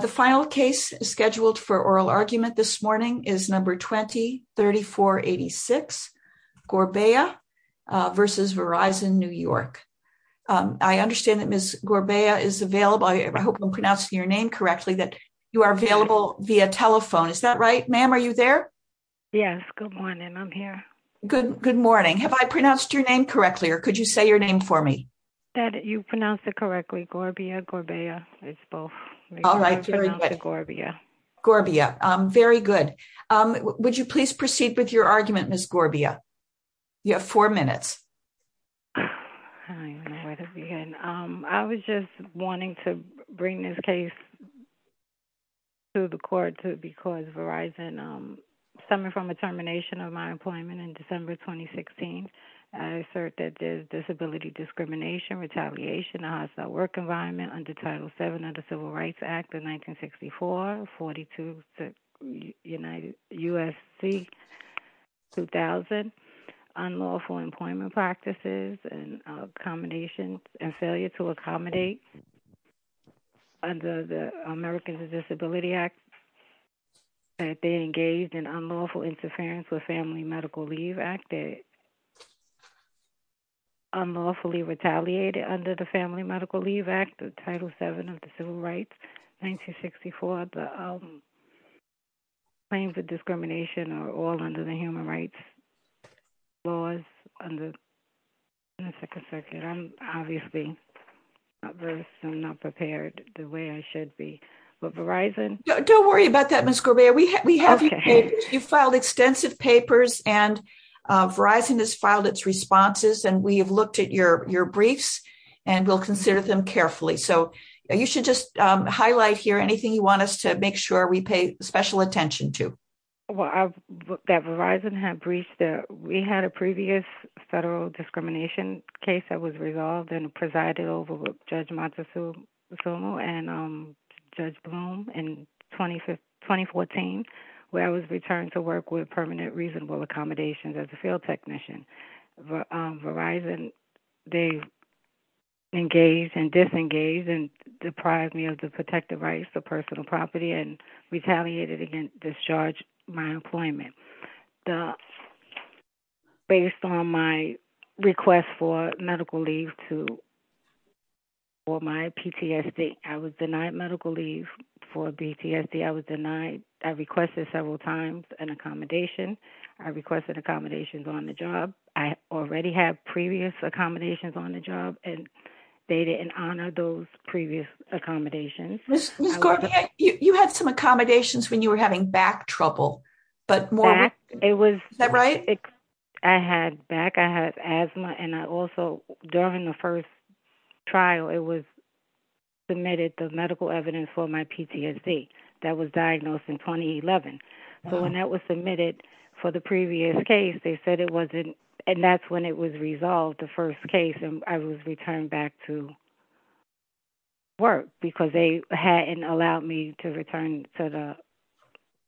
The final case scheduled for oral argument this morning is number 20-3486, Gorbea v. Verizon New York. I understand that Ms. Gorbea is available. I hope I'm pronouncing your name correctly, that you are available via telephone. Is that right? Ma'am, are you there? Yes. Good morning. I'm here. Good morning. Have I pronounced your name correctly or could you say your name for me? You pronounced it correctly, Gorbea, Gorbea. It's both. I pronounced it Gorbea. Gorbea. Very good. Would you please proceed with your argument, Ms. Gorbea? You have four minutes. I was just wanting to bring this case to the court because Verizon, stemming from a termination of my employment in December 2016, I assert that there's disability discrimination, retaliation, a hostile work environment, under Title VII of the Civil Rights Act of 1964, 42 U.S.C. 2000, unlawful employment practices and accommodations and failure to accommodate under the Americans with Disabilities Act, that they engaged in unlawful interference with Family Medical Leave Act, unlawfully retaliated under the Family Medical Leave Act of Title VII of the Civil Rights Act of 1964. Claims of discrimination are all under the Human Rights Laws under the Second Circuit. I'm obviously not prepared the way I should be, but Verizon... Don't worry about that, Ms. Gorbea. You filed extensive papers and Verizon has filed its briefs and we'll consider them carefully. You should just highlight here anything you want us to make sure we pay special attention to. Well, that Verizon had briefed that we had a previous federal discrimination case that was resolved and presided over with Judge Matsumoto and Judge Bloom in 2014, where I was returned to work with Permanent Reasonable Accommodations as a field technician. Verizon, they engaged and disengaged and deprived me of the protective rights of personal property and retaliated and discharged my employment. Based on my request for medical leave for my PTSD, I was denied medical leave for PTSD. I was denied... I requested several times an accommodation. I requested accommodations on the job. I already had previous accommodations on the job and they didn't honor those previous accommodations. Ms. Gorbea, you had some accommodations when you were having back trouble, but more... Is that right? I had back... I had asthma and I also, during the first trial, it was submitted the medical evidence for my PTSD that was diagnosed in 2011. So when that was submitted for the previous case, they said it wasn't... And that's when it was resolved, the first case, and I was returned back to work because they hadn't allowed me to return to the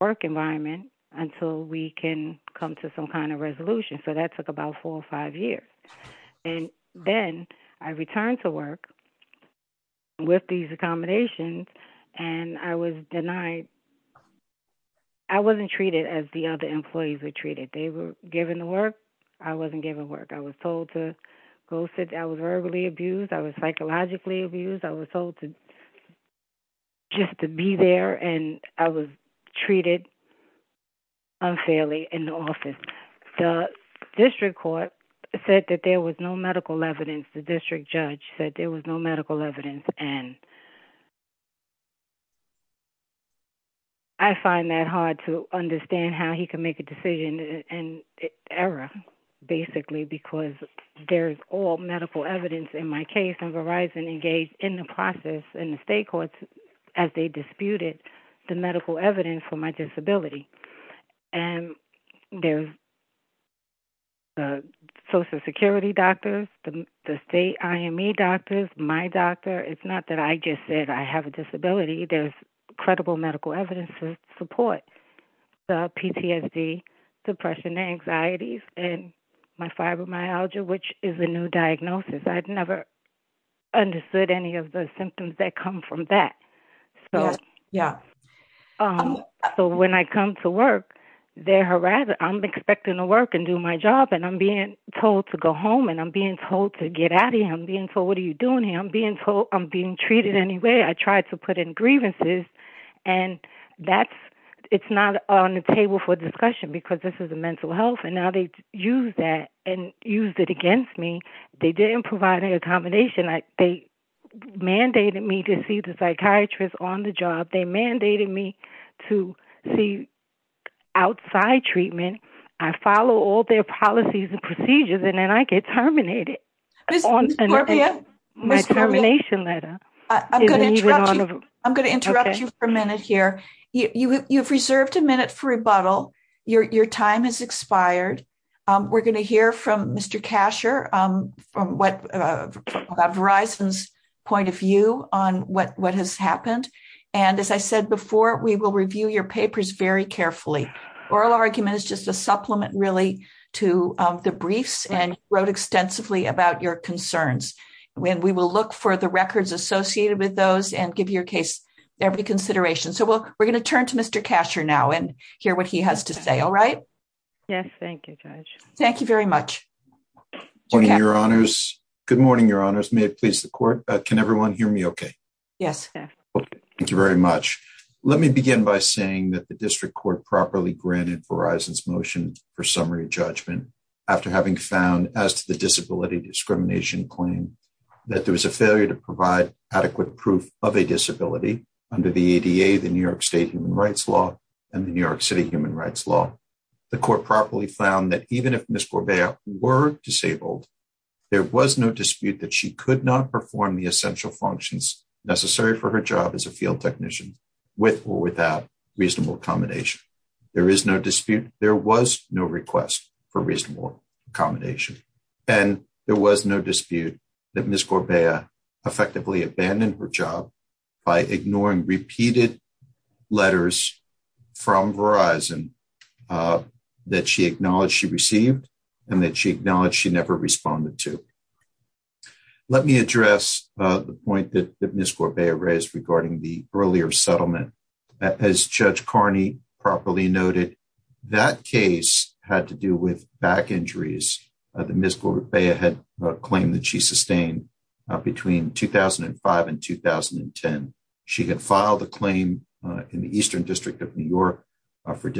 work environment until we can come to some kind of resolution. So that took about four or five years. And then I returned to work with these accommodations and I was denied... I wasn't treated as the other employees were treated. They were given the work. I wasn't given work. I was told to go sit... I was verbally abused. I was psychologically abused. I was told just to be there and I was treated unfairly in the office. The district court said that there was no medical evidence. The district judge said there was no medical evidence. And I find that hard to understand how he can make a decision and error, basically, because there's all medical evidence in my case and Verizon engaged in the process and the state courts as they disputed the medical evidence for my disability. And there's social security doctors, the state IME doctors, my doctor. It's not that I just said I have a disability. There's credible medical evidence to support the PTSD, depression, anxieties, and my fibromyalgia, which is a new diagnosis. I'd never understood any of the symptoms that come from that. So when I come to work, they're harassing... I'm expecting to work and do my job and I'm being told to go home and I'm being told to get out of here. I'm being told, what are you doing here? I'm being told I'm being treated anyway. I tried to put in grievances and that's... It's not on the table for discussion because this is a mental health. And now they used that and used it against me. They didn't provide an accommodation. They mandated me to see the psychiatrist on the job. They mandated me to see outside treatment. I follow all their policies and procedures and then I get terminated on my termination letter. I'm going to interrupt you for a minute here. You've reserved a minute for rebuttal. Your time has expired. We're going to hear from Mr. Kasher about Verizon's point of view on what has happened. And as I said before, we will review your papers very carefully. Oral argument is just a supplement really to the briefs and you wrote extensively about your concerns. And we will look for the records associated with those and give your case every consideration. So we're going to turn to Mr. Kasher now and hear what he has to say. All right? Yes. Thank you, Judge. Thank you very much. Good morning, your honors. Good morning, your honors. May it please the court. Can everyone hear me okay? Yes. Thank you very much. Let me begin by saying that the district court properly granted Verizon's motion for summary judgment after having found as to the disability discrimination claim that there was a failure to provide adequate proof of a disability under the ADA, the New York state human rights law, and the New York City human rights law. The court properly found that even if Ms. Corbea were disabled, there was no dispute that she could not perform the essential functions necessary for her job as a field technician with or without reasonable accommodation. There is no dispute. There was no request for reasonable accommodation. And there was no dispute that Ms. Corbea effectively abandoned her job by ignoring repeated letters from Verizon that she acknowledged she received and that she acknowledged she never responded to. Let me address the point that Ms. Corbea raised regarding the earlier settlement. As Judge Carney properly noted, that case had to do with back injuries that Ms. Corbea had claimed that she sustained between 2005 and 2010. She had filed a claim in the Eastern District of New York for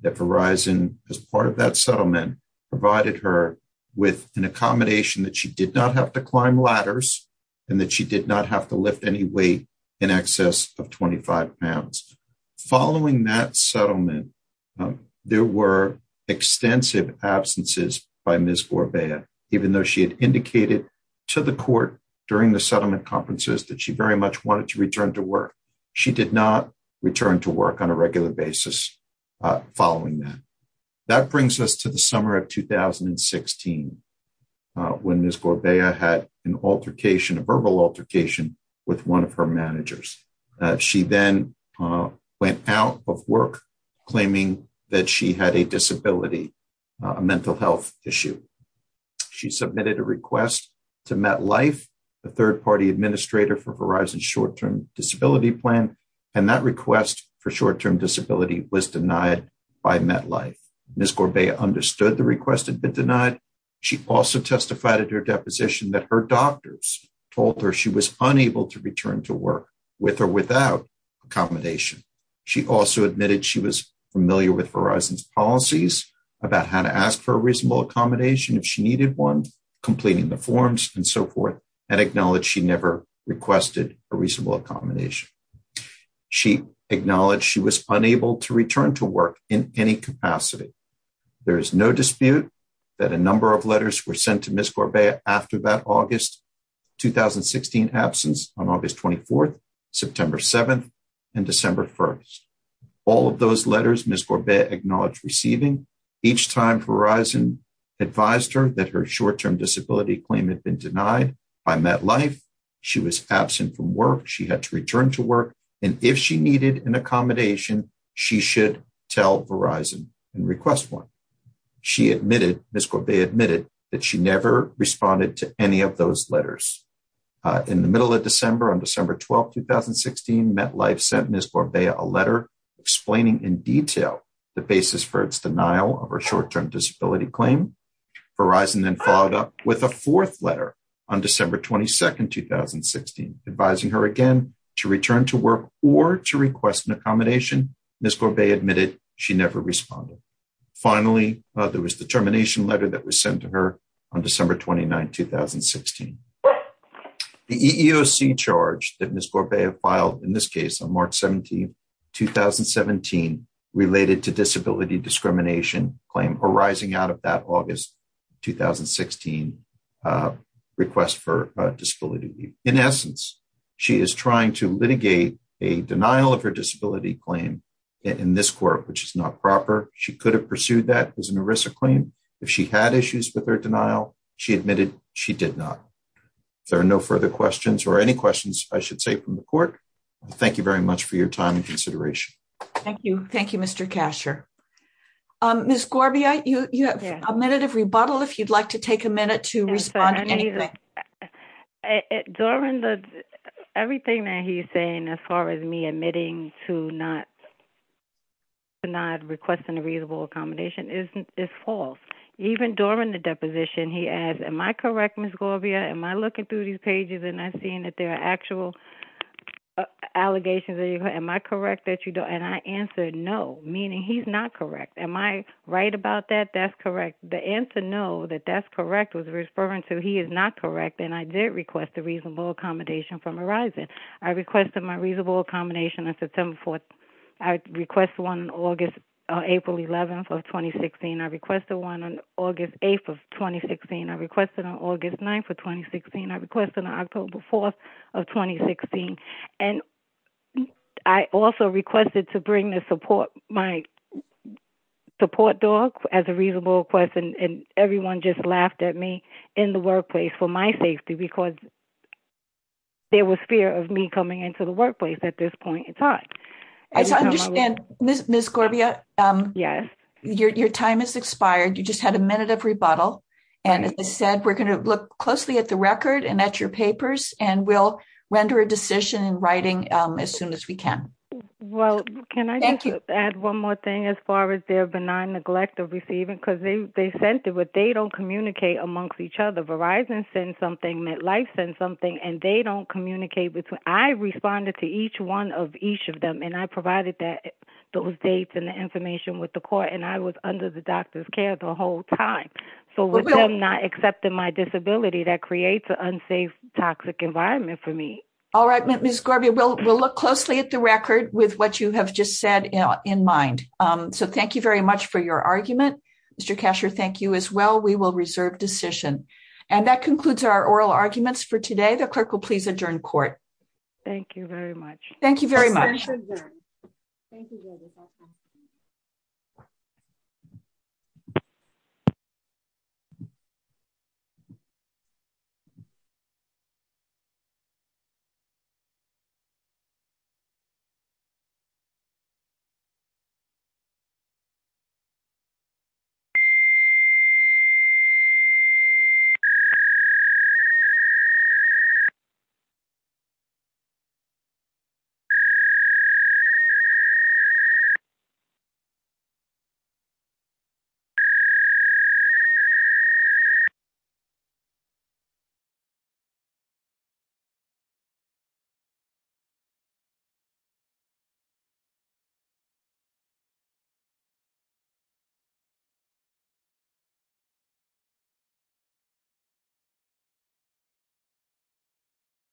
that Verizon, as part of that settlement, provided her with an accommodation that she did not have to climb ladders and that she did not have to lift any weight in excess of 25 pounds. Following that settlement, there were extensive absences by Ms. Corbea, even though she had indicated to the court during the settlement conferences that she very much wanted to That brings us to the summer of 2016, when Ms. Corbea had an altercation, a verbal altercation, with one of her managers. She then went out of work, claiming that she had a disability, a mental health issue. She submitted a request to MetLife, the third-party administrator for Verizon's short-term disability plan, and that request for short-term disability was denied by MetLife. Ms. Corbea understood the request had been denied. She also testified at her deposition that her doctors told her she was unable to return to work, with or without accommodation. She also admitted she was familiar with Verizon's policies about how to ask for a reasonable accommodation if she needed one, completing the forms and so forth, and acknowledged she never requested a reasonable accommodation. She acknowledged she was unable to return to work in any capacity. There is no dispute that a number of letters were sent to Ms. Corbea after that August 2016 absence on August 24th, September 7th, and December 1st. All of those letters, Ms. Corbea acknowledged receiving. Each time Verizon advised her that her short-term disability claim had been denied by MetLife, she was absent from work, she had to return to work, and if she needed an accommodation, she should tell Verizon and request one. She admitted, Ms. Corbea admitted, that she never responded to any of those letters. In the middle of December, on December 12th, 2016, MetLife sent Ms. Corbea a letter explaining in detail the basis for its denial of her short-term disability claim. Verizon then followed up with a fourth letter on December 22nd, 2016, advising her again to work or to request an accommodation. Ms. Corbea admitted she never responded. Finally, there was the termination letter that was sent to her on December 29th, 2016. The EEOC charge that Ms. Corbea filed in this case on March 17th, 2017, related to disability discrimination claim arising out of that August 2016 request for disability leave. In essence, she is trying to litigate a denial of her disability claim in this court, which is not proper. She could have pursued that as an ERISA claim. If she had issues with her denial, she admitted she did not. There are no further questions or any questions I should say from the court. Thank you very much for your time and consideration. Thank you. Thank you, Mr. Kasher. Ms. Corbea, you have a minute of rebuttal, if you'd like to take a minute to respond. Honey, everything that he's saying as far as me admitting to not requesting a reasonable accommodation is false. Even during the deposition, he asked, am I correct, Ms. Corbea? Am I looking through these pages and I'm seeing that there are actual allegations? Am I correct that you don't? And I answered no, meaning he's not correct. Am I about that? That's correct. The answer no, that that's correct, was referring to he is not correct and I did request a reasonable accommodation from ERISA. I requested my reasonable accommodation on September 4th. I requested one on April 11th of 2016. I requested one on August 8th of 2016. I requested on August 9th of 2016. I requested on October 4th of 2016. And I also requested to my support dog as a reasonable request and everyone just laughed at me in the workplace for my safety because there was fear of me coming into the workplace at this point in time. Ms. Corbea, your time has expired. You just had a minute of rebuttal. And as I said, we're going to look closely at the record and at your papers and we'll render a decision in writing as soon as we can. Well, can I add one more thing as far as their benign neglect of receiving because they they sent it but they don't communicate amongst each other. Verizon sends something, MetLife sends something and they don't communicate with I responded to each one of each of them and I provided that those dates and the information with the court and I was under the doctor's care the whole time. So I'm not accepting my disability that creates an unsafe toxic environment for me. All right, Ms. Corbea, we'll look closely at the record with what you have just said in mind. So thank you very much for your argument. Mr. Kasher, thank you as well. We will reserve decision. And that concludes our oral arguments for today. The clerk will please adjourn court. Thank you very much. Thank you very much. Thank you.